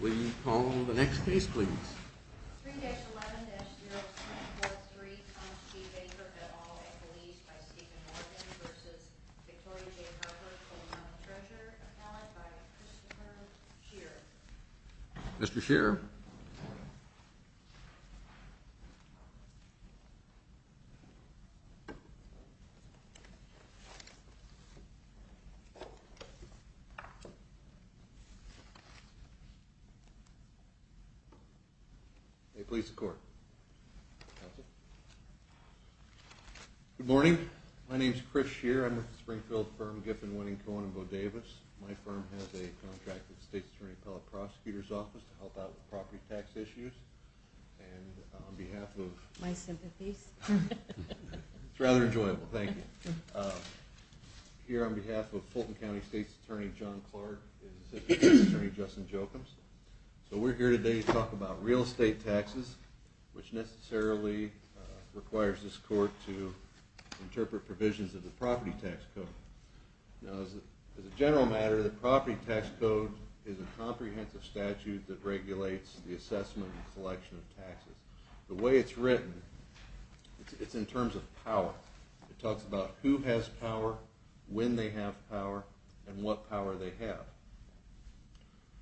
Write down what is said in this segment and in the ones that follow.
Will you call the next case, please? 3-11-0643, Thomas G. Baker, et al. Ecclesiastes by Stephen Morgan v. Victoria J. Harper, full amount of treasure, accounted by Christopher Shearer. Mr. Shearer. May it please the Court. Counsel. Good morning. My name is Chris Shearer. I'm with the Springfield firm Giffen, Winning Cohen & Bo Davis. My firm has a contract with the State's Attorney Appellate Prosecutor's Office to help out with property tax issues. And on behalf of... My sympathies. It's rather enjoyable. Thank you. Here on behalf of Fulton County State's Attorney John Clark is Assistant Attorney Justin Jokums. So we're here today to talk about real estate taxes, which necessarily requires this Court to interpret provisions of the Property Tax Code. Now, as a general matter, the Property Tax Code is a comprehensive statute that regulates the assessment and collection of taxes. The way it's written, it's in terms of power. It talks about who has power, when they have power, and what power they have.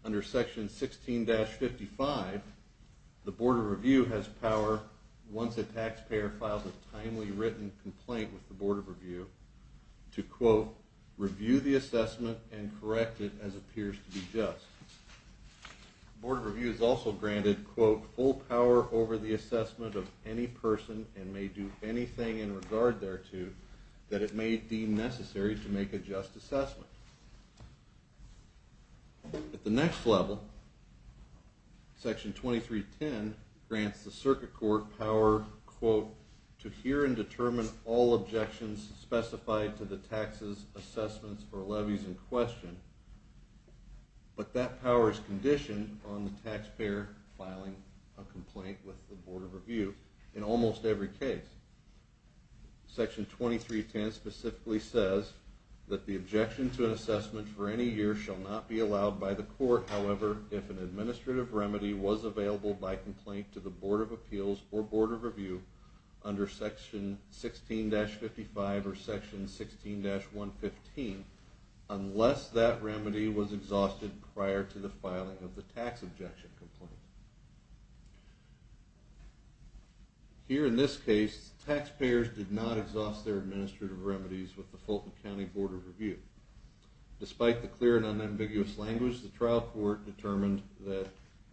Under Section 16-55, the Board of Review has power once a taxpayer files a timely written complaint with the Board of Review to, quote, review the assessment and correct it as appears to be just. The Board of Review is also granted, quote, full power over the assessment of any person and may do anything in regard thereto that it may deem necessary to make a just assessment. At the next level, Section 23-10 grants the Circuit Court power, quote, to hear and determine all objections specified to the taxes, assessments, or levies in question, but that power is conditioned on the taxpayer filing a complaint with the Board of Review in almost every case. Section 23-10 specifically says that the objection to an assessment for any year shall not be allowed by the court, however, if an administrative remedy was available by complaint to the Board of Appeals or Board of Review under Section 16-55 or Section 16-115, unless that remedy was exhausted prior to the filing of the tax objection complaint. Here, in this case, taxpayers did not exhaust their administrative remedies with the Fulton County Board of Review. Despite the clear and unambiguous language, the trial court determined that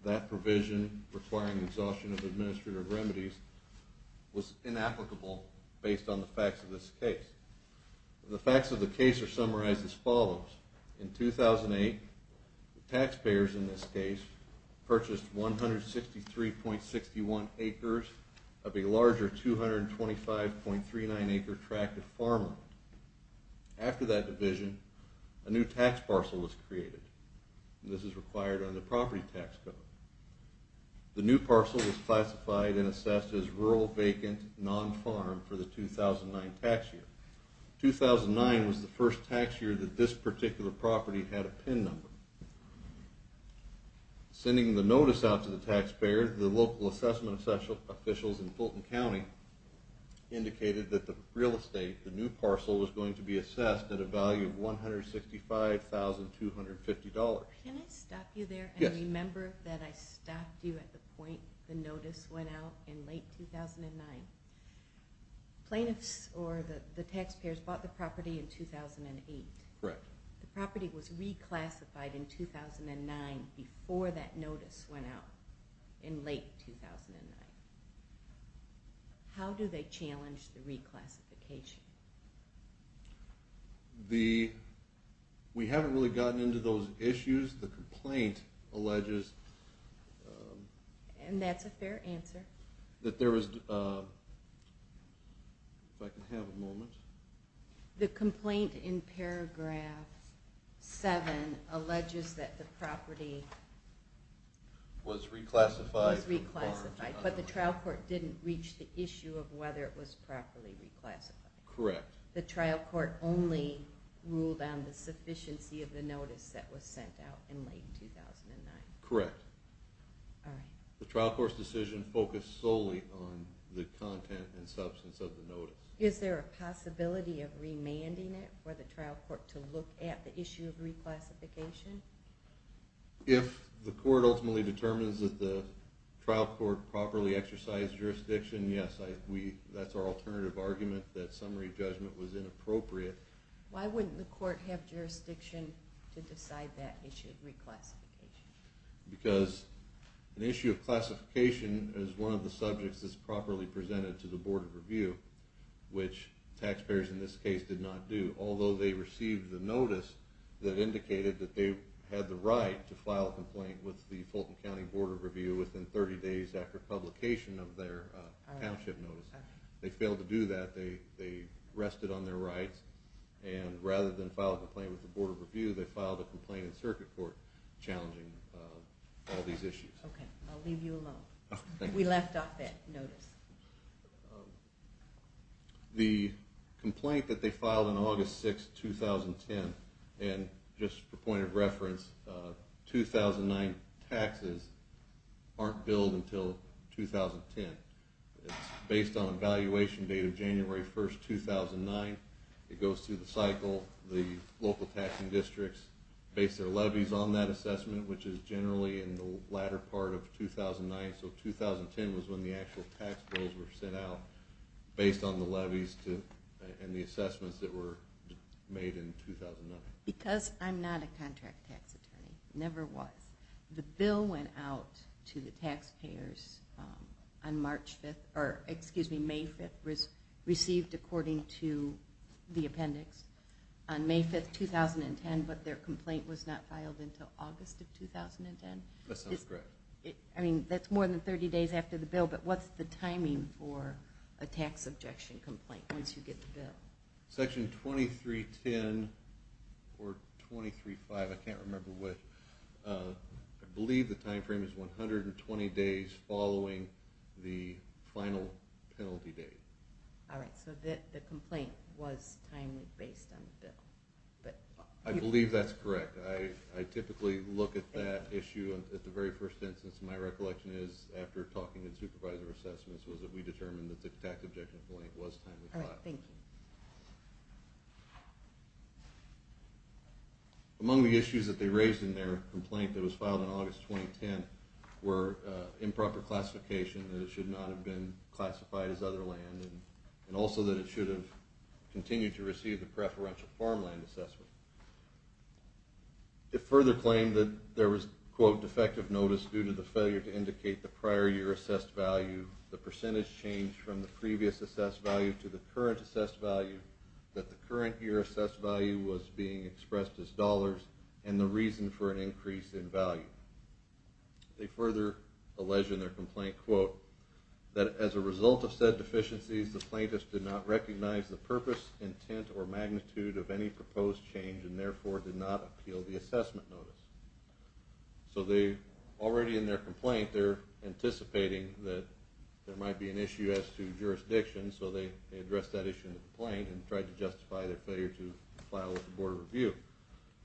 that provision requiring the exhaustion of administrative remedies was inapplicable based on the facts of this case. The facts of the case are summarized as follows. In 2008, the taxpayers, in this case, purchased 163.61 acres of a larger 225.39 acre tract of farmland. After that division, a new tax parcel was created. This is required under the Property Tax Code. The new parcel was classified and assessed as rural, vacant, non-farm for the 2009 tax year. 2009 was the first tax year that this particular property had a PIN number. Sending the notice out to the taxpayer, the local assessment officials in Fulton County indicated that the real estate, the new parcel, was going to be assessed at a value of $165,250. Can I stop you there? Yes. And remember that I stopped you at the point the notice went out in late 2009. Plaintiffs or the taxpayers bought the property in 2008. Correct. The property was reclassified in 2009 before that notice went out in late 2009. How do they challenge the reclassification? We haven't really gotten into those issues. The complaint alleges... And that's a fair answer. That there was... If I can have a moment. The complaint in paragraph 7 alleges that the property... Was reclassified. Was reclassified. But the trial court didn't reach the issue of whether it was properly reclassified. Correct. The trial court only ruled on the sufficiency of the notice that was sent out in late 2009. Correct. All right. The trial court's decision focused solely on the content and substance of the notice. Is there a possibility of remanding it for the trial court to look at the issue of reclassification? If the court ultimately determines that the trial court properly exercised jurisdiction, yes. That's our alternative argument that summary judgment was inappropriate. Why wouldn't the court have jurisdiction to decide that issue of reclassification? Because an issue of classification is one of the subjects that's properly presented to the Board of Review. Which taxpayers in this case did not do. Although they received the notice that indicated that they had the right to file a complaint with the Fulton County Board of Review within 30 days after publication of their township notice. They failed to do that. They rested on their rights. And rather than file a complaint with the Board of Review, they filed a complaint in circuit court challenging all these issues. Okay. I'll leave you alone. Thank you. We left off that notice. The complaint that they filed on August 6, 2010, and just for point of reference, 2009 taxes aren't billed until 2010. It's based on a valuation date of January 1, 2009. It goes through the cycle. The local taxing districts base their levies on that assessment, which is generally in the latter part of 2009. So 2010 was when the actual tax bills were sent out based on the levies and the assessments that were made in 2009. Because I'm not a contract tax attorney. Never was. The bill went out to the taxpayers on May 5, received according to the appendix, on May 5, 2010, but their complaint was not filed until August of 2010? That sounds correct. I mean, that's more than 30 days after the bill, but what's the timing for a tax objection complaint once you get the bill? Section 2310 or 2305, I can't remember which. I believe the time frame is 120 days following the final penalty date. All right. So the complaint was timely based on the bill. I believe that's correct. I typically look at that issue at the very first instance. My recollection is after talking to the supervisor of assessments was that we determined that the tax objection complaint was timely. All right. Thank you. Among the issues that they raised in their complaint that was filed in August 2010 were improper classification, that it should not have been classified as other land, and also that it should have continued to receive the preferential farmland assessment. It further claimed that there was, quote, defective notice due to the failure to indicate the prior year assessed value, the percentage change from the previous assessed value to the current assessed value, that the current year assessed value was being expressed as dollars, and the reason for an increase in value. They further allege in their complaint, quote, that as a result of said deficiencies, the plaintiffs did not recognize the purpose, intent, or magnitude of any proposed change, and therefore did not appeal the assessment notice. So already in their complaint, they're anticipating that there might be an issue as to jurisdiction, so they addressed that issue in the complaint and tried to justify their failure to file with the Board of Review.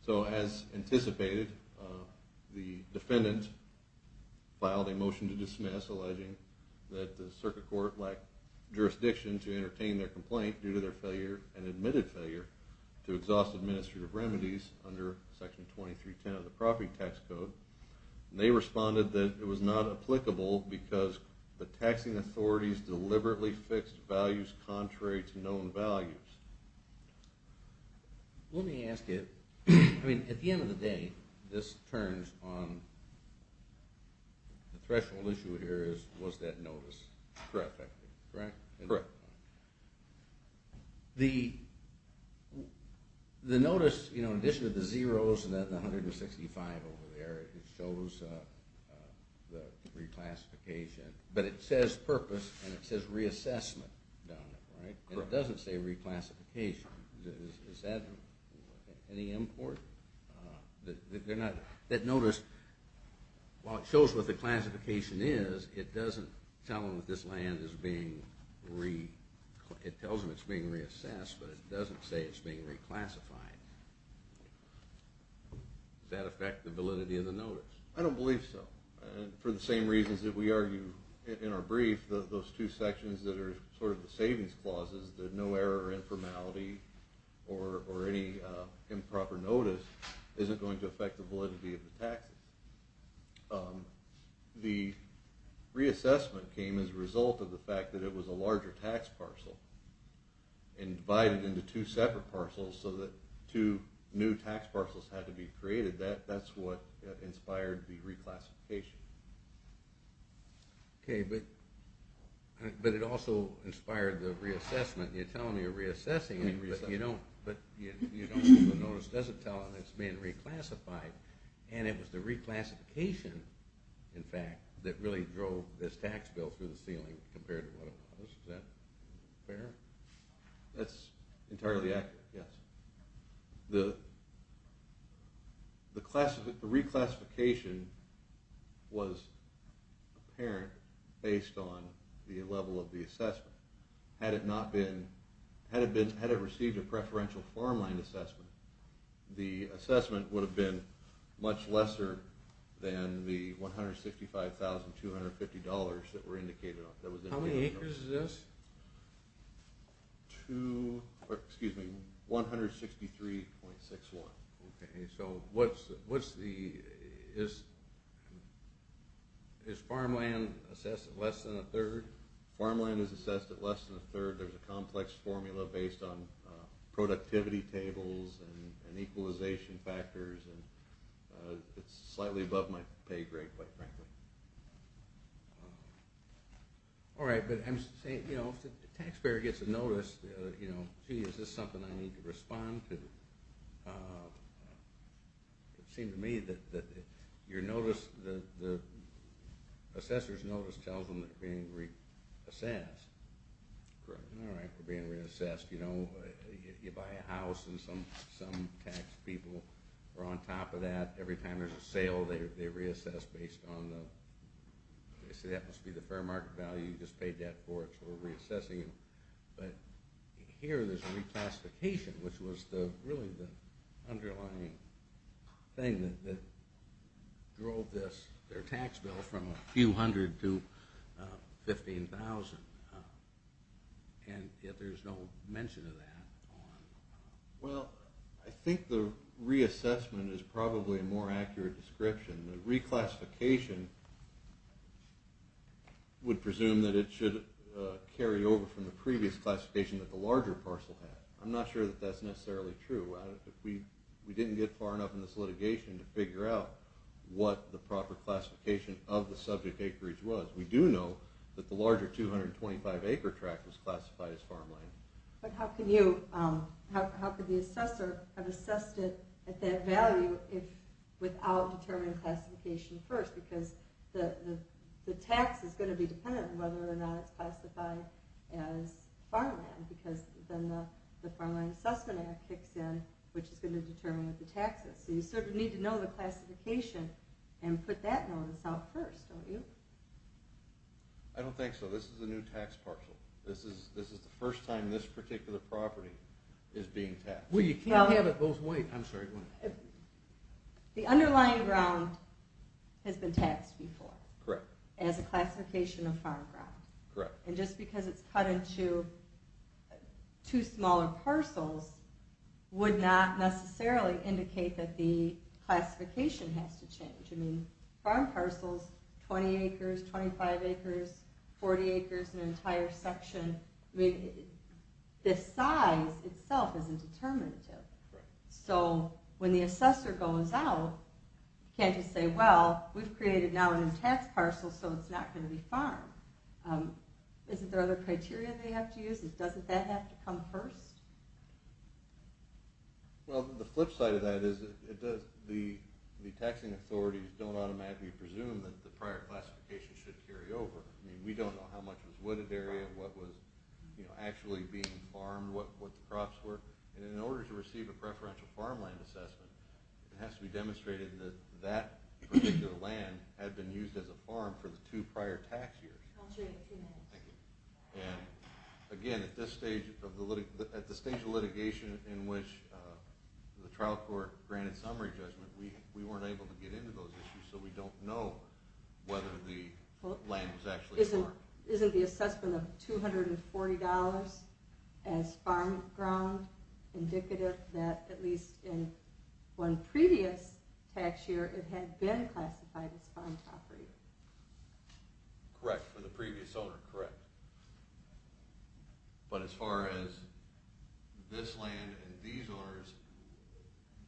So as anticipated, the defendant filed a motion to dismiss alleging that the circuit court lacked jurisdiction to entertain their complaint due to their failure and admitted failure to exhaust administrative remedies under Section 2310 of the Property Tax Code. And they responded that it was not applicable because the taxing authorities deliberately fixed values contrary to known values. Let me ask you, I mean, at the end of the day, this turns on, the threshold issue here is, was that notice correct? Correct. The notice, you know, in addition to the zeros and the 165 over there, it shows the reclassification, but it says purpose and it says reassessment down there, right? Correct. And it doesn't say reclassification. Is that any import? That notice, while it shows what the classification is, it doesn't tell them that this land is being reassessed, but it doesn't say it's being reclassified. Does that affect the validity of the notice? I don't believe so. For the same reasons that we argue in our brief, those two sections that are sort of the savings clauses, that no error or informality or any improper notice isn't going to affect the validity of the taxes. The reassessment came as a result of the fact that it was a larger tax parcel and divided into two separate parcels so that two new tax parcels had to be created. That's what inspired the reclassification. Okay, but it also inspired the reassessment. You're telling me you're reassessing it, but the notice doesn't tell them it's being reclassified. And it was the reclassification, in fact, that really drove this tax bill through the ceiling compared to what it was. Is that fair? That's entirely accurate, yes. The reclassification was apparent based on the level of the assessment. Had it received a preferential farmland assessment, the assessment would have been much lesser than the $165,250 that were indicated. How many acres is this? 163.61. Okay, so is farmland assessed at less than a third? Farmland is assessed at less than a third. There's a complex formula based on productivity tables and equalization factors, and it's slightly above my pay grade, quite frankly. All right, but I'm saying, you know, if the taxpayer gets a notice, you know, gee, is this something I need to respond to? It seemed to me that the assessor's notice tells them they're being reassessed. Correct. All right, we're being reassessed. You know, you buy a house and some tax people are on top of that. Every time there's a sale, they reassess based on the – they say that must be the fair market value, you just paid that for it, so we're reassessing it. But here there's a reclassification, which was really the underlying thing that drove their tax bill from a few hundred to 15,000, and yet there's no mention of that. Well, I think the reassessment is probably a more accurate description. The reclassification would presume that it should carry over from the previous classification that the larger parcel had. I'm not sure that that's necessarily true. We didn't get far enough in this litigation to figure out what the proper classification of the subject acreage was. We do know that the larger 225-acre tract was classified as farmland. But how could the assessor have assessed it at that value without determining classification first? Because the tax is going to be dependent on whether or not it's classified as farmland, because then the Farmland Assessment Act kicks in, which is going to determine the taxes. So you sort of need to know the classification and put that notice out first, don't you? I don't think so. This is a new tax parcel. This is the first time this particular property is being taxed. Well, you can't have it both ways. The underlying ground has been taxed before as a classification of farm ground. And just because it's cut into two smaller parcels would not necessarily indicate that the classification has to change. Farm parcels, 20 acres, 25 acres, 40 acres, an entire section, the size itself isn't determinative. So when the assessor goes out, can't you say, well, we've created now a new tax parcel, so it's not going to be farm. Isn't there other criteria they have to use? Doesn't that have to come first? Well, the flip side of that is the taxing authorities don't automatically presume that the prior classification should carry over. I mean, we don't know how much was wooded area, what was actually being farmed, what the crops were. And in order to receive a preferential farmland assessment, it has to be demonstrated that that particular land had been used as a farm for the two prior tax years. I'll show you in a few minutes. And again, at this stage of litigation in which the trial court granted summary judgment, we weren't able to get into those issues, so we don't know whether the land was actually farmed. Isn't the assessment of $240 as farm ground indicative that at least in one previous tax year it had been classified as farm property? Correct, for the previous owner, correct. But as far as this land and these owners,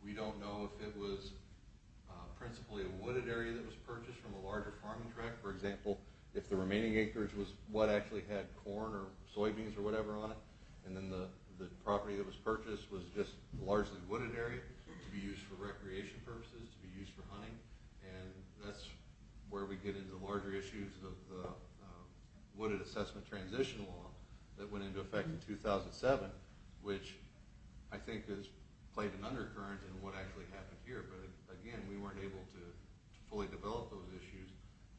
we don't know if it was principally a wooded area that was purchased from a larger farming tract. For example, if the remaining acres was what actually had corn or soybeans or whatever on it, and then the property that was purchased was just largely wooded area to be used for recreation purposes, to be used for hunting, and that's where we get into larger issues of the wooded assessment transition law that went into effect in 2007, which I think has played an undercurrent in what actually happened here. But again, we weren't able to fully develop those issues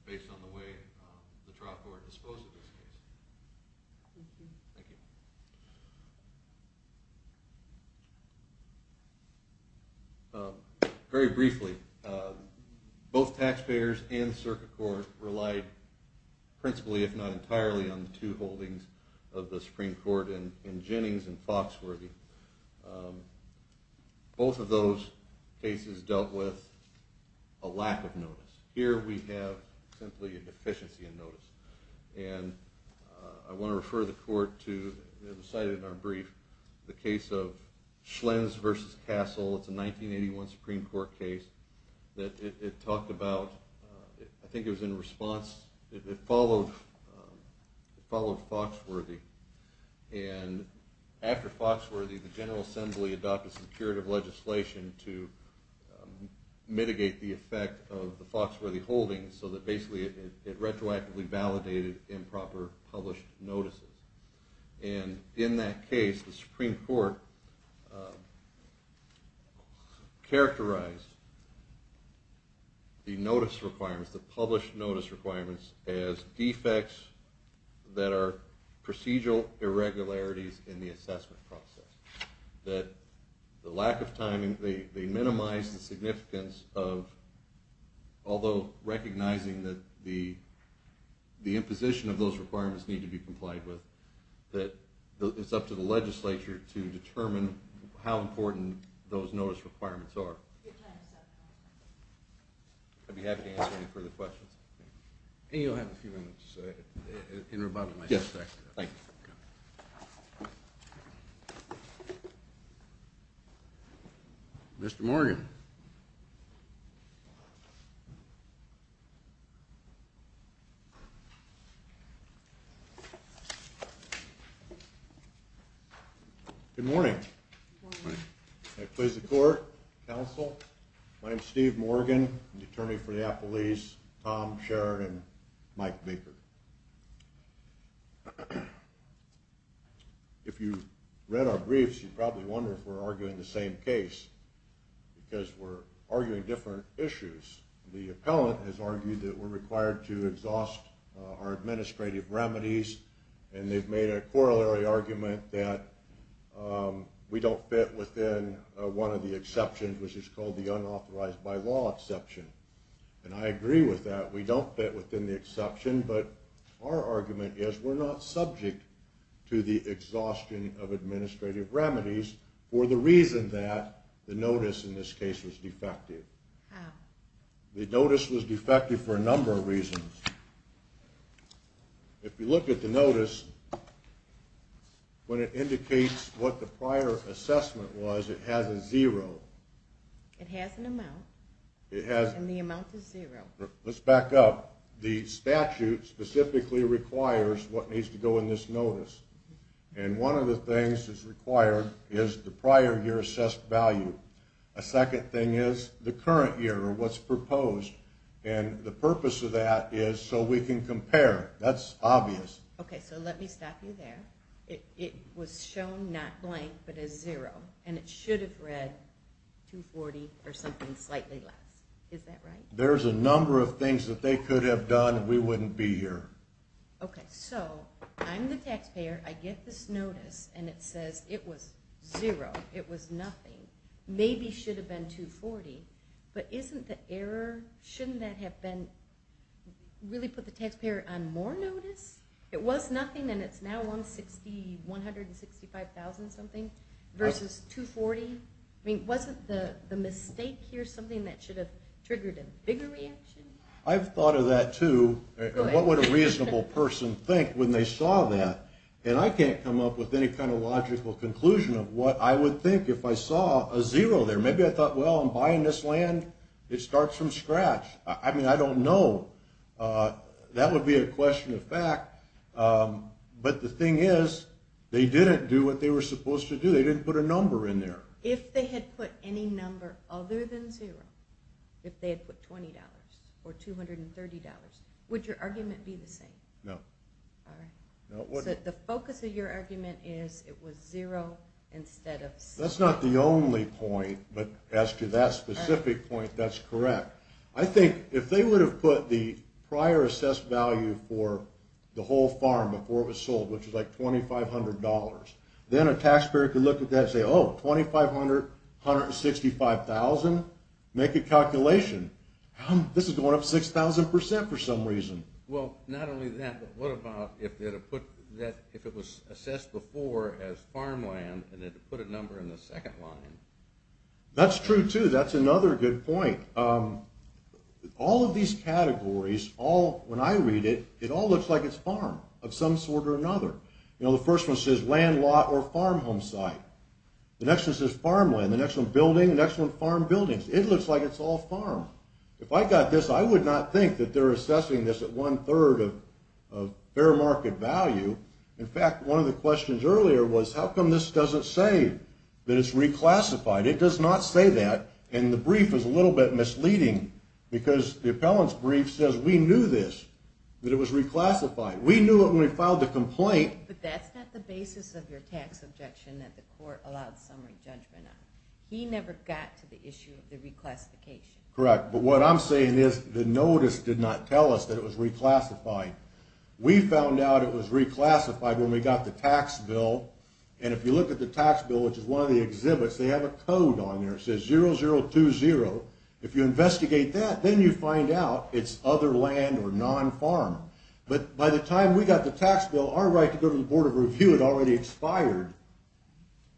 based on the way the trial court disposed of this case. Thank you. Very briefly, both taxpayers and circuit court relied principally, if not entirely, on the two holdings of the Supreme Court in Jennings and Foxworthy. Both of those cases dealt with a lack of notice. Here we have simply a deficiency in notice. And I want to refer the court to, as cited in our brief, the case of Schlenz v. Castle. It's a 1981 Supreme Court case that it talked about, I think it was in response, it followed Foxworthy. And after Foxworthy, the General Assembly adopted some curative legislation to mitigate the effect of the Foxworthy holdings, so that basically it retroactively validated improper published notices. And in that case, the Supreme Court characterized the notice requirements, the published notice requirements, as defects that are procedural irregularities in the assessment process. That the lack of timing, they minimized the significance of, although recognizing that the imposition of those requirements need to be complied with, that it's up to the legislature to determine how important those notice requirements are. I'd be happy to answer any further questions. And you'll have a few minutes in rebuttal, I suspect. Yes, thank you. Mr. Morgan. Good morning. Good morning. May it please the court, counsel, my name is Steve Morgan, I'm the attorney for the Applelees, Tom Sheridan, Mike Baker. If you read our briefs, you probably wonder if we're arguing the same case, because we're arguing different issues. The appellant has argued that we're required to exhaust our administrative remedies, and they've made a corollary argument that we don't fit within one of the exceptions, which is called the unauthorized by law exception. And I agree with that, we don't fit within the exception, but our argument is we're not subject to the exhaustion of administrative remedies, for the reason that the notice in this case was defective. How? The notice was defective for a number of reasons. If you look at the notice, when it indicates what the prior assessment was, it has a zero. It has an amount. And the amount is zero. Let's back up. The statute specifically requires what needs to go in this notice. And one of the things that's required is the prior year assessed value. A second thing is the current year, or what's proposed, and the purpose of that is so we can compare. That's obvious. Okay, so let me stop you there. It was shown not blank, but as zero, and it should have read 240 or something slightly less. Is that right? There's a number of things that they could have done, and we wouldn't be here. Okay, so I'm the taxpayer, I get this notice, and it says it was zero, it was nothing. Maybe it should have been 240, but isn't the error, shouldn't that have been, really put the taxpayer on more notice? It was nothing, and it's now 165,000 something versus 240. I mean, wasn't the mistake here something that should have triggered a bigger reaction? I've thought of that, too. What would a reasonable person think when they saw that? And I can't come up with any kind of logical conclusion of what I would think if I saw a zero there. Maybe I thought, well, I'm buying this land. It starts from scratch. I mean, I don't know. That would be a question of fact, but the thing is, they didn't do what they were supposed to do. They didn't put a number in there. If they had put any number other than zero, if they had put $20 or $230, would your argument be the same? No. All right. So the focus of your argument is it was zero instead of six. That's not the only point, but as to that specific point, that's correct. I think if they would have put the prior assessed value for the whole farm before it was sold, which was like $2,500, then a taxpayer could look at that and say, oh, 2,500, 165,000? Make a calculation. This is going up 6,000% for some reason. Well, not only that, but what about if it was assessed before as farmland and they put a number in the second line? That's true, too. That's another good point. All of these categories, when I read it, it all looks like it's farm of some sort or another. The first one says land, lot, or farmhomes site. The next one says farmland. The next one, building. The next one, farm buildings. It looks like it's all farm. If I got this, I would not think that they're assessing this at one-third of fair market value. In fact, one of the questions earlier was, how come this doesn't say that it's reclassified? It does not say that, and the brief is a little bit misleading because the appellant's brief says we knew this, that it was reclassified. We knew it when we filed the complaint. But that's not the basis of your tax objection that the court allowed summary judgment on. He never got to the issue of the reclassification. Correct, but what I'm saying is the notice did not tell us that it was reclassified. We found out it was reclassified when we got the tax bill, and if you look at the tax bill, which is one of the exhibits, they have a code on there. It says 0020. If you investigate that, then you find out it's other land or non-farm. But by the time we got the tax bill, our right to go to the Board of Review had already expired.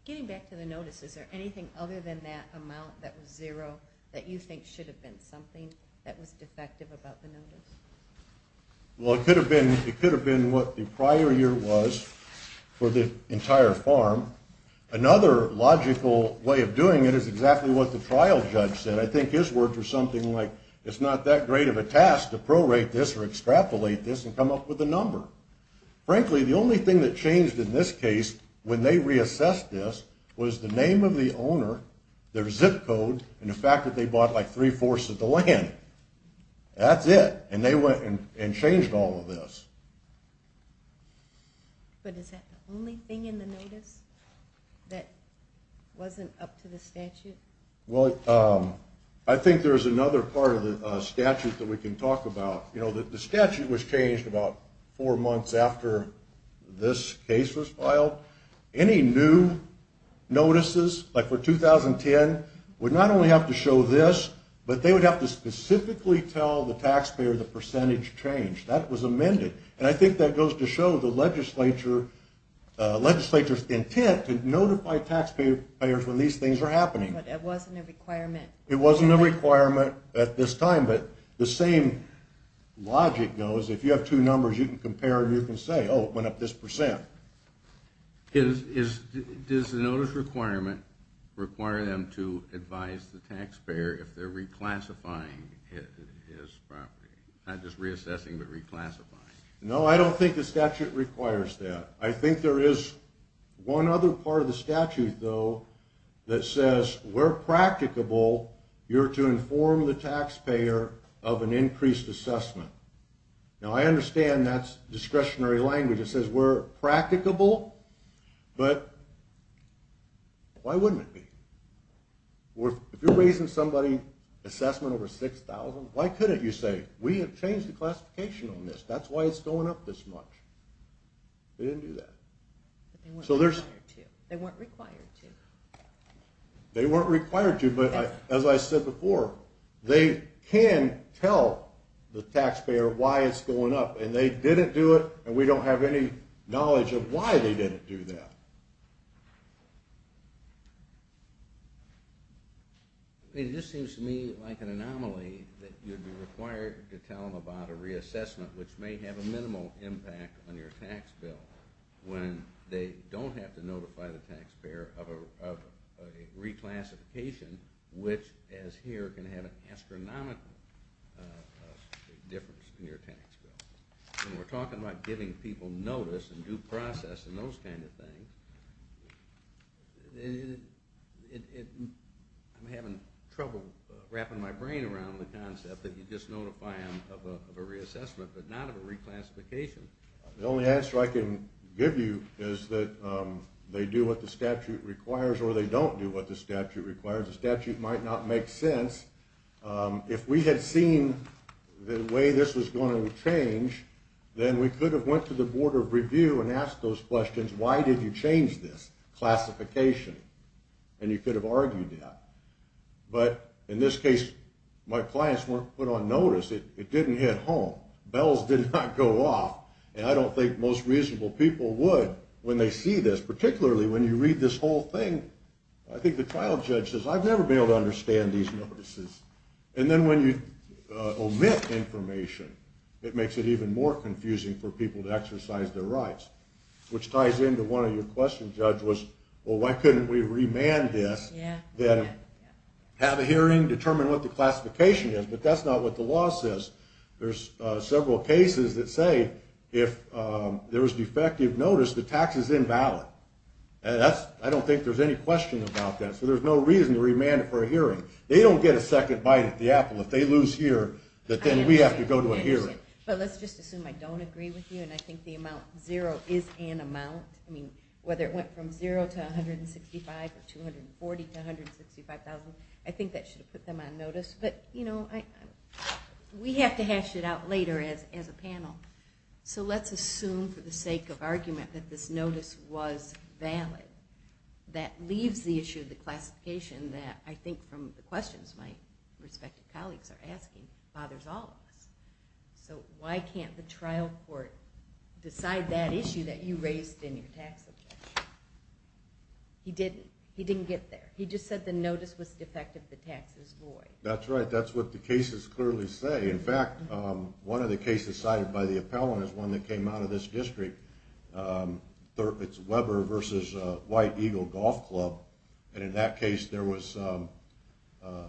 Getting back to the notice, is there anything other than that amount that was zero that you think should have been something that was defective about the notice? Well, it could have been what the prior year was for the entire farm. Another logical way of doing it is exactly what the trial judge said. I think his words were something like, it's not that great of a task to prorate this or extrapolate this and come up with a number. Frankly, the only thing that changed in this case when they reassessed this was the name of the owner, their zip code, and the fact that they bought like three-fourths of the land. That's it. And they went and changed all of this. But is that the only thing in the notice that wasn't up to the statute? Well, I think there's another part of the statute that we can talk about. You know, the statute was changed about four months after this case was filed. Any new notices, like for 2010, would not only have to show this, but they would have to specifically tell the taxpayer the percentage change. That was amended. And I think that goes to show the legislature's intent to notify taxpayers when these things are happening. But it wasn't a requirement. It wasn't a requirement at this time, but the same logic goes. If you have two numbers, you can compare and you can say, oh, it went up this percent. Does the notice requirement require them to advise the taxpayer if they're reclassifying his property? Not just reassessing, but reclassifying. No, I don't think the statute requires that. I think there is one other part of the statute, though, that says where practicable, you're to inform the taxpayer of an increased assessment. Now, I understand that's discretionary language. It says we're practicable, but why wouldn't it be? If you're raising somebody's assessment over $6,000, why couldn't you say, we have changed the classification on this. That's why it's going up this much. They didn't do that. They weren't required to. They weren't required to, but as I said before, they can tell the taxpayer why it's going up. And they didn't do it, and we don't have any knowledge of why they didn't do that. It just seems to me like an anomaly that you'd be required to tell them about a reassessment, which may have a minimal impact on your tax bill, when they don't have to notify the taxpayer of a reclassification, which, as here, can have an astronomical difference in your tax bill. When we're talking about giving people notice and due process and those kind of things, I'm having trouble wrapping my brain around the concept that you just notify them of a reassessment, but not of a reclassification. The only answer I can give you is that they do what the statute requires or they don't do what the statute requires. The statute might not make sense. If we had seen the way this was going to change, then we could have went to the Board of Review and asked those questions. Why did you change this classification? And you could have argued that. But in this case, my clients weren't put on notice. It didn't hit home. Bells did not go off, and I don't think most reasonable people would when they see this, particularly when you read this whole thing. I think the trial judge says, I've never been able to understand these notices. And then when you omit information, it makes it even more confusing for people to exercise their rights, which ties into one of your questions, Judge, was, well, why couldn't we remand this, then have a hearing, determine what the classification is? But that's not what the law says. There's several cases that say if there was defective notice, the tax is invalid. I don't think there's any question about that. So there's no reason to remand it for a hearing. They don't get a second bite at the apple. If they lose here, then we have to go to a hearing. But let's just assume I don't agree with you, and I think the amount zero is an amount. I mean, whether it went from zero to $165,000 or $240,000 to $165,000, I think that should have put them on notice. But, you know, we have to hash it out later as a panel. So let's assume for the sake of argument that this notice was valid. That leaves the issue of the classification that I think from the questions my respective colleagues are asking bothers all of us. So why can't the trial court decide that issue that you raised in your tax objection? He didn't. He didn't get there. He just said the notice was defective, the tax is void. That's right. That's what the cases clearly say. In fact, one of the cases cited by the appellant is one that came out of this district. It's Weber v. White Eagle Golf Club. And in that case, there was no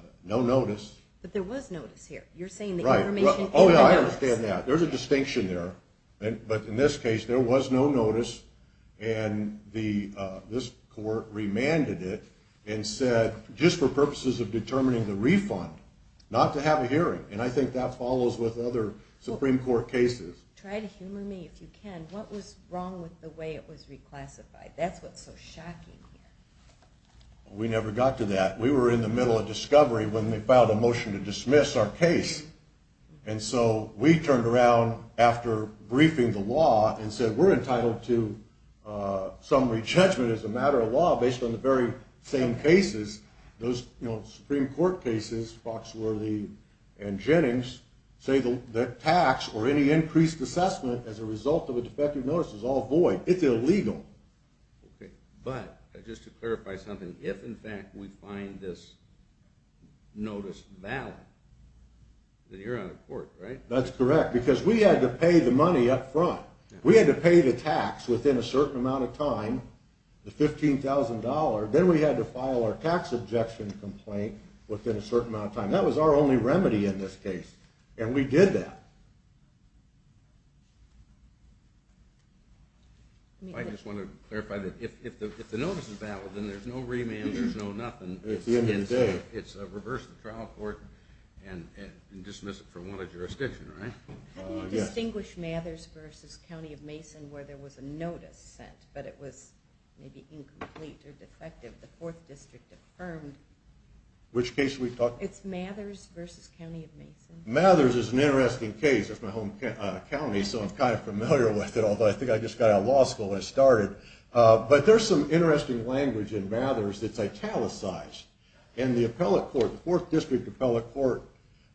notice. But there was notice here. You're saying the information is the notice. Oh, yeah, I understand that. There's a distinction there. But in this case, there was no notice, and this court remanded it and said, just for purposes of determining the refund, not to have a hearing. And I think that follows with other Supreme Court cases. Try to humor me if you can. What was wrong with the way it was reclassified? That's what's so shocking here. We never got to that. We were in the middle of discovery when they filed a motion to dismiss our case. And so we turned around after briefing the law and said, we're entitled to summary judgment as a matter of law based on the very same cases. Those Supreme Court cases, Foxworthy and Jennings, say that tax or any increased assessment as a result of a defective notice is all void. It's illegal. But just to clarify something, if, in fact, we find this notice valid, then you're out of court, right? Because we had to pay the money up front. We had to pay the tax within a certain amount of time, the $15,000. Then we had to file our tax objection complaint within a certain amount of time. That was our only remedy in this case, and we did that. I just want to clarify that if the notice is valid, then there's no remand. There's no nothing. It's the end of the day. It's reverse the trial court and dismiss it from all the jurisdiction, right? How do you distinguish Mathers versus County of Mason where there was a notice sent, but it was maybe incomplete or defective? The Fourth District affirmed. Which case are we talking about? It's Mathers versus County of Mason. Mathers is an interesting case. It's my home county, so I'm kind of familiar with it, although I think I just got out of law school when I started. But there's some interesting language in Mathers that's italicized. And the appellate court, the Fourth District appellate court,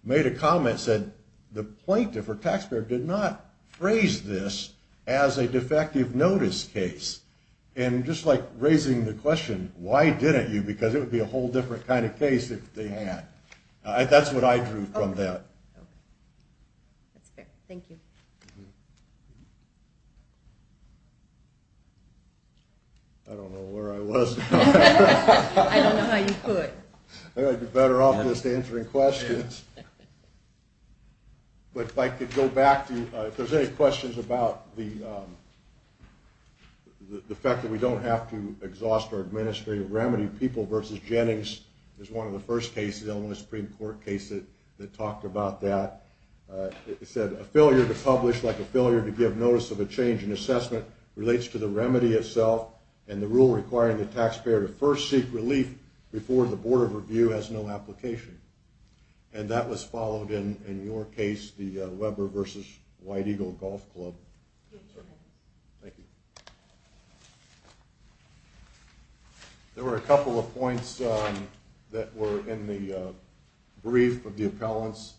made a comment, said the plaintiff or taxpayer did not phrase this as a defective notice case. And just like raising the question, why didn't you? Because it would be a whole different kind of case if they had. That's what I drew from that. Okay. That's fair. Thank you. I don't know where I was. I don't know how you put it. I think I'd be better off just answering questions. But if I could go back to you. If there's any questions about the fact that we don't have to exhaust our administrative remedy, People versus Jennings is one of the first cases, the only Supreme Court case that talked about that. It said a failure to publish like a failure to give notice of a change in assessment relates to the remedy itself and the rule requiring the taxpayer to first seek relief before the Board of Review has no application. And that was followed in your case, the Weber versus White Eagle Golf Club. Yes, sir. Thank you. There were a couple of points that were in the brief of the appellants.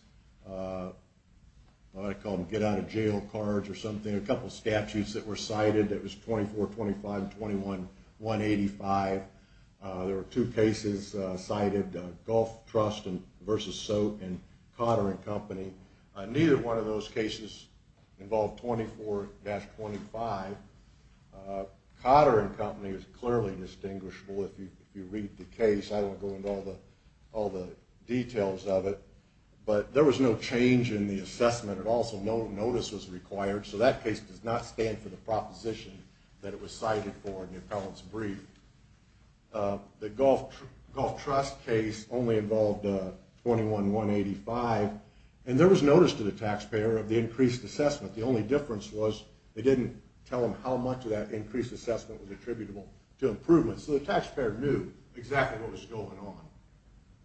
I call them get-out-of-jail cards or something. There were a couple of statutes that were cited. It was 2425 and 21185. There were two cases cited, Golf Trust versus Soak and Cotter & Company. Neither one of those cases involved 24-25. Cotter & Company is clearly distinguishable if you read the case. I won't go into all the details of it. But there was no change in the assessment. Also, no notice was required. So that case does not stand for the proposition that it was cited for in the appellant's brief. The Golf Trust case only involved 21185. And there was notice to the taxpayer of the increased assessment. The only difference was they didn't tell them how much of that increased assessment was attributable to improvements. So the taxpayer knew exactly what was going on.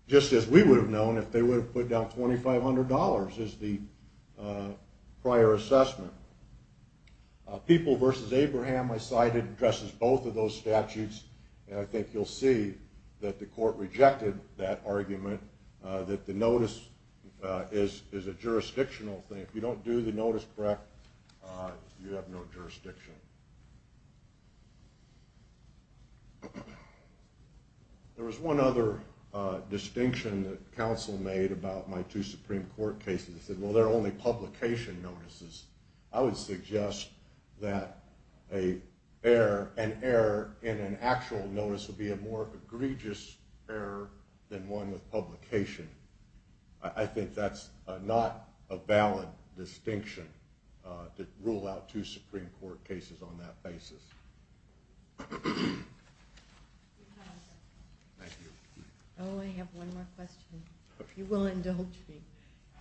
Just as we would have known if they would have put down $2,500 as the prior assessment. People versus Abraham I cited addresses both of those statutes. And I think you'll see that the court rejected that argument, that the notice is a jurisdictional thing. If you don't do the notice correct, you have no jurisdiction. There was one other distinction that counsel made about my two Supreme Court cases. They said, well, they're only publication notices. I would suggest that an error in an actual notice would be a more egregious error than one with publication. I think that's not a valid distinction to rule out two Supreme Court cases. Thank you. Oh, I have one more question. If you will indulge me.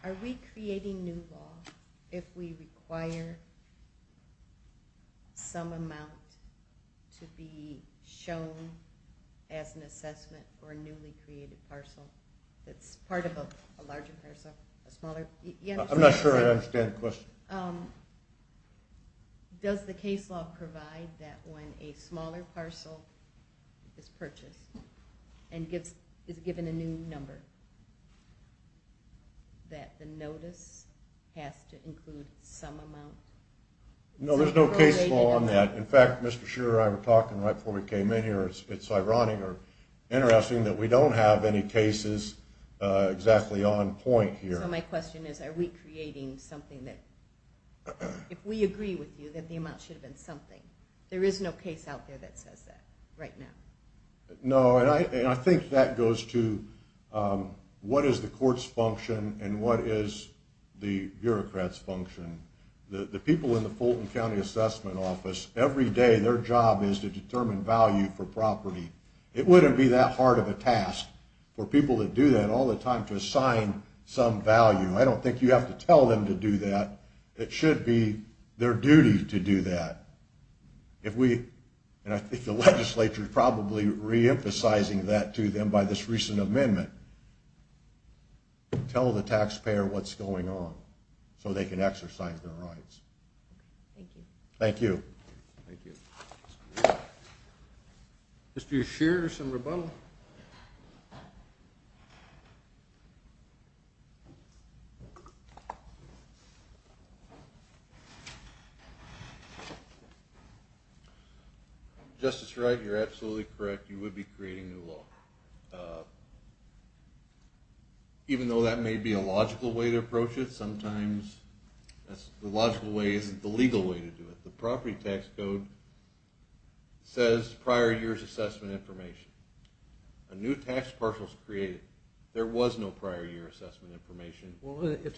Are we creating new law if we require some amount to be shown as an assessment for a newly created parcel? That's part of a larger parcel, a smaller? I'm not sure I understand the question. Does the case law provide that when a smaller parcel is purchased and is given a new number, that the notice has to include some amount? No, there's no case law on that. In fact, Mr. Shearer and I were talking right before we came in here. It's ironic or interesting that we don't have any cases exactly on point here. So my question is, are we creating something that if we agree with you that the amount should have been something? There is no case out there that says that right now. No, and I think that goes to what is the court's function and what is the bureaucrat's function. The people in the Fulton County Assessment Office, every day their job is to determine value for property. It wouldn't be that hard of a task for people to do that all the time to assign some value. I don't think you have to tell them to do that. It should be their duty to do that. And I think the legislature is probably reemphasizing that to them by this recent amendment. Tell the taxpayer what's going on so they can exercise their rights. Thank you. Thank you. Thank you. Mr. Ushir, some rebuttal? Justice Wright, you're absolutely correct. You would be creating new law. Even though that may be a logical way to approach it, sometimes the logical way isn't the legal way to do it. The property tax code says prior year's assessment information. A new tax parcel is created. There was no prior year assessment information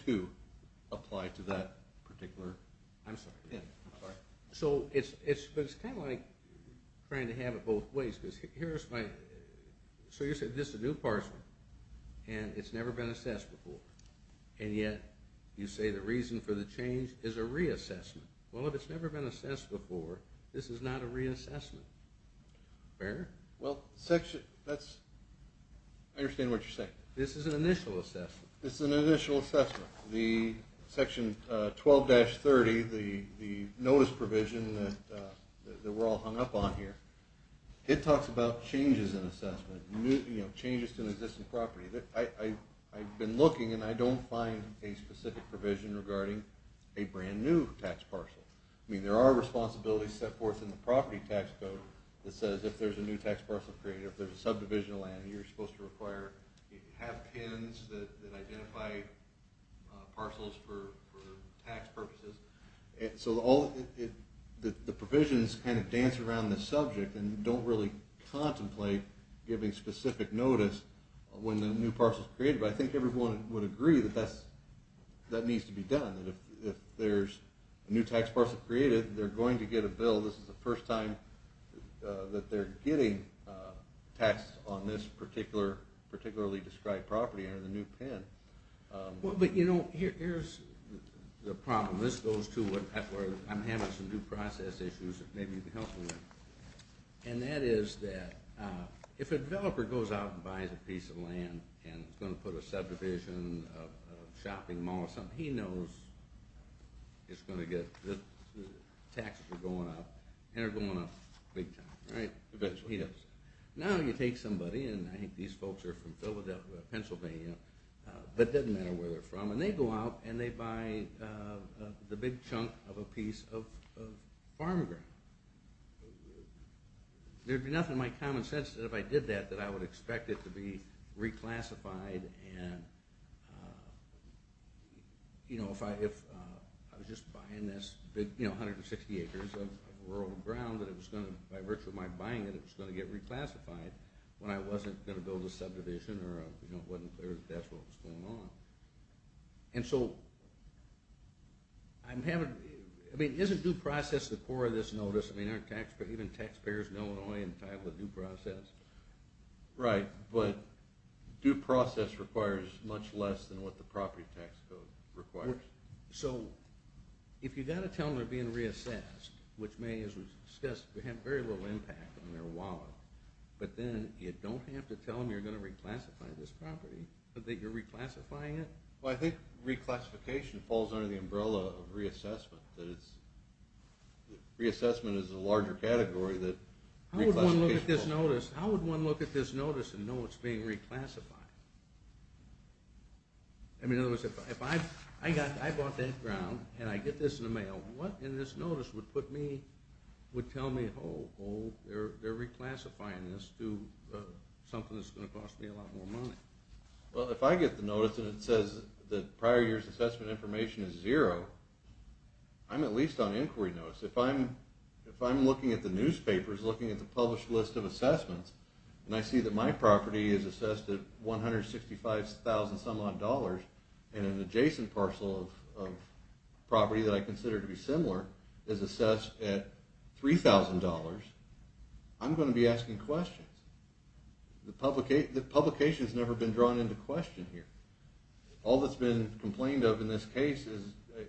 to apply to that particular. I'm sorry. So it's kind of like trying to have it both ways. So you're saying this is a new parcel and it's never been assessed before. And yet you say the reason for the change is a reassessment. Well, if it's never been assessed before, this is not a reassessment. Fair? Well, I understand what you're saying. This is an initial assessment. This is an initial assessment. Section 12-30, the notice provision that we're all hung up on here, it talks about changes in assessment, changes to an existing property. I've been looking and I don't find a specific provision regarding a brand-new tax parcel. I mean, there are responsibilities set forth in the property tax code that says if there's a new tax parcel created, if there's a subdivision of land, you're supposed to have PINs that identify parcels for tax purposes. So the provisions kind of dance around the subject and don't really contemplate giving specific notice when the new parcel is created. But I think everyone would agree that that needs to be done. If there's a new tax parcel created, they're going to get a bill. This is the first time that they're getting taxed on this particularly described property under the new PIN. Well, but you know, here's the problem. This goes to where I'm having some due process issues. Maybe you can help me with that. And that is that if a developer goes out and buys a piece of land and is going to put a subdivision, a shopping mall, he knows it's going to get – the taxes are going up and are going up big time, right? Now you take somebody, and I think these folks are from Pennsylvania, but it doesn't matter where they're from, and they go out and they buy the big chunk of a piece of farm ground. There'd be nothing in my common sense that if I did that, that I would expect it to be reclassified. And, you know, if I was just buying this big, you know, 160 acres of rural ground, that it was going to – by virtue of my buying it, it was going to get reclassified when I wasn't going to build a subdivision or it wasn't clear that that's what was going on. And so I'm having – I mean, isn't due process the core of this notice? I mean, aren't even taxpayers in Illinois entitled to due process? Right, but due process requires much less than what the property tax code requires. So if you've got to tell them they're being reassessed, which may, as was discussed, have very little impact on their wallet, but then you don't have to tell them you're going to reclassify this property, but that you're reclassifying it? Well, I think reclassification falls under the umbrella of reassessment, that it's – reassessment is a larger category that reclassification falls under. How would one look at this notice and know it's being reclassified? I mean, in other words, if I bought that ground and I get this in the mail, what in this notice would put me – would tell me, oh, they're reclassifying this to something that's going to cost me a lot more money? Well, if I get the notice and it says that prior year's assessment information is zero, I'm at least on inquiry notice. If I'm looking at the newspapers, looking at the published list of assessments, and I see that my property is assessed at $165,000-some-odd dollars and an adjacent parcel of property that I consider to be similar is assessed at $3,000, I'm going to be asking questions. The publication has never been drawn into question here. All that's been complained of in this case is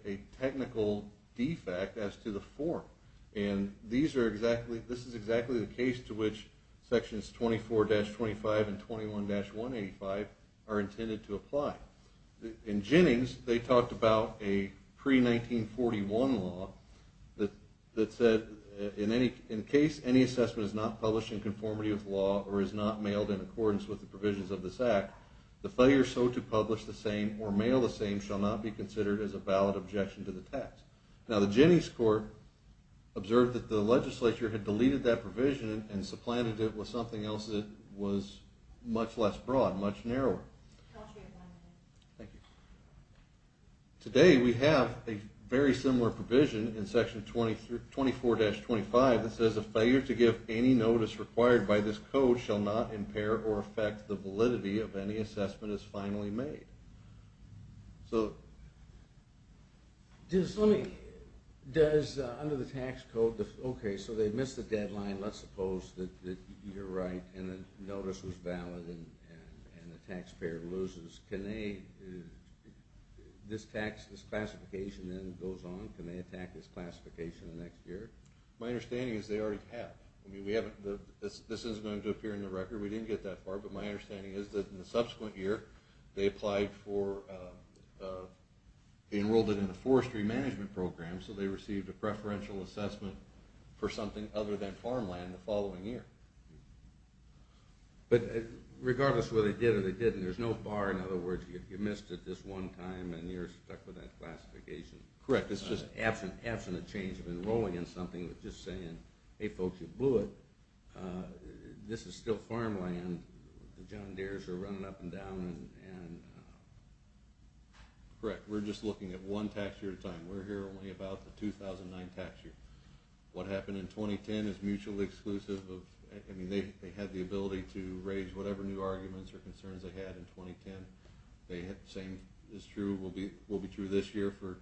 a technical defect as to the form, and these are exactly – this is exactly the case to which Sections 24-25 and 21-185 are intended to apply. In Jennings, they talked about a pre-1941 law that said, in case any assessment is not published in conformity with law or is not mailed in accordance with the provisions of this act, the failure so to publish the same or mail the same shall not be considered as a valid objection to the text. Now, the Jennings court observed that the legislature had deleted that provision and supplanted it with something else that was much less broad, much narrower. Thank you. Today, we have a very similar provision in Section 24-25 that says, a failure to give any notice required by this code shall not impair or affect the validity of any assessment as finally made. Does – under the tax code – okay, so they missed the deadline. Let's suppose that you're right and the notice was valid and the taxpayer loses. Can they – this tax, this classification then goes on. Can they attack this classification the next year? My understanding is they already have. I mean, we haven't – this isn't going to appear in the record. We didn't get that far, but my understanding is that in the subsequent year, they applied for – enrolled it in the forestry management program, so they received a preferential assessment for something other than farmland the following year. But regardless whether they did or they didn't, there's no bar. In other words, you missed it this one time and you're stuck with that classification. Correct. It's just an absent change of enrolling in something with just saying, hey, folks, you blew it. This is still farmland. The John Deeres are running up and down. Correct. We're just looking at one tax year at a time. We're here only about the 2009 tax year. What happened in 2010 is mutually exclusive. I mean, they had the ability to raise whatever new arguments or concerns they had in 2010. The same is true – will be true this year for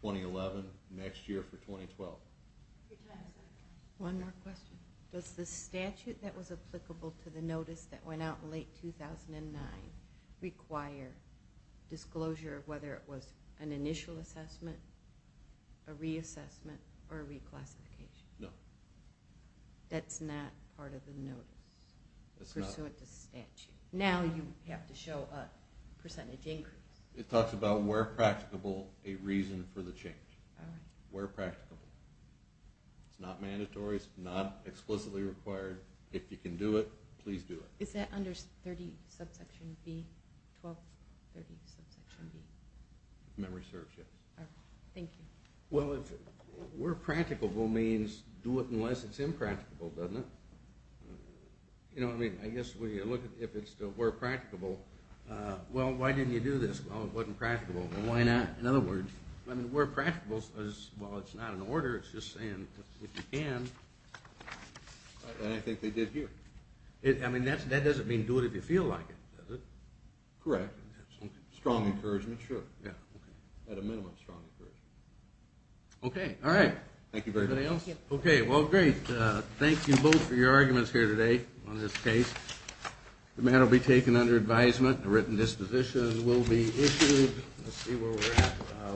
2011, next year for 2012. One more question. Does the statute that was applicable to the notice that went out in late 2009 require disclosure of whether it was an initial assessment, a reassessment, or a reclassification? No. That's not part of the notice? That's not. Pursuant to statute. Now you have to show a percentage increase. It talks about where practicable a reason for the change. All right. Where practicable. It's not mandatory. It's not explicitly required. If you can do it, please do it. Is that under 30 subsection B, 1230 subsection B? Memory serves, yes. All right. Thank you. Well, where practicable means do it unless it's impracticable, doesn't it? You know what I mean? I guess when you look at if it's still where practicable, well, why didn't you do this? Well, it wasn't practicable. Well, why not? In other words, where practicable is, well, it's not an order. It's just saying if you can. I think they did here. I mean, that doesn't mean do it if you feel like it, does it? Correct. Strong encouragement, sure. At a minimum, strong encouragement. Okay. All right. Thank you very much. Okay. Well, great. Thank you both for your arguments here today on this case. The matter will be taken under advisement. A written disposition will be issued. Let's see where we're at.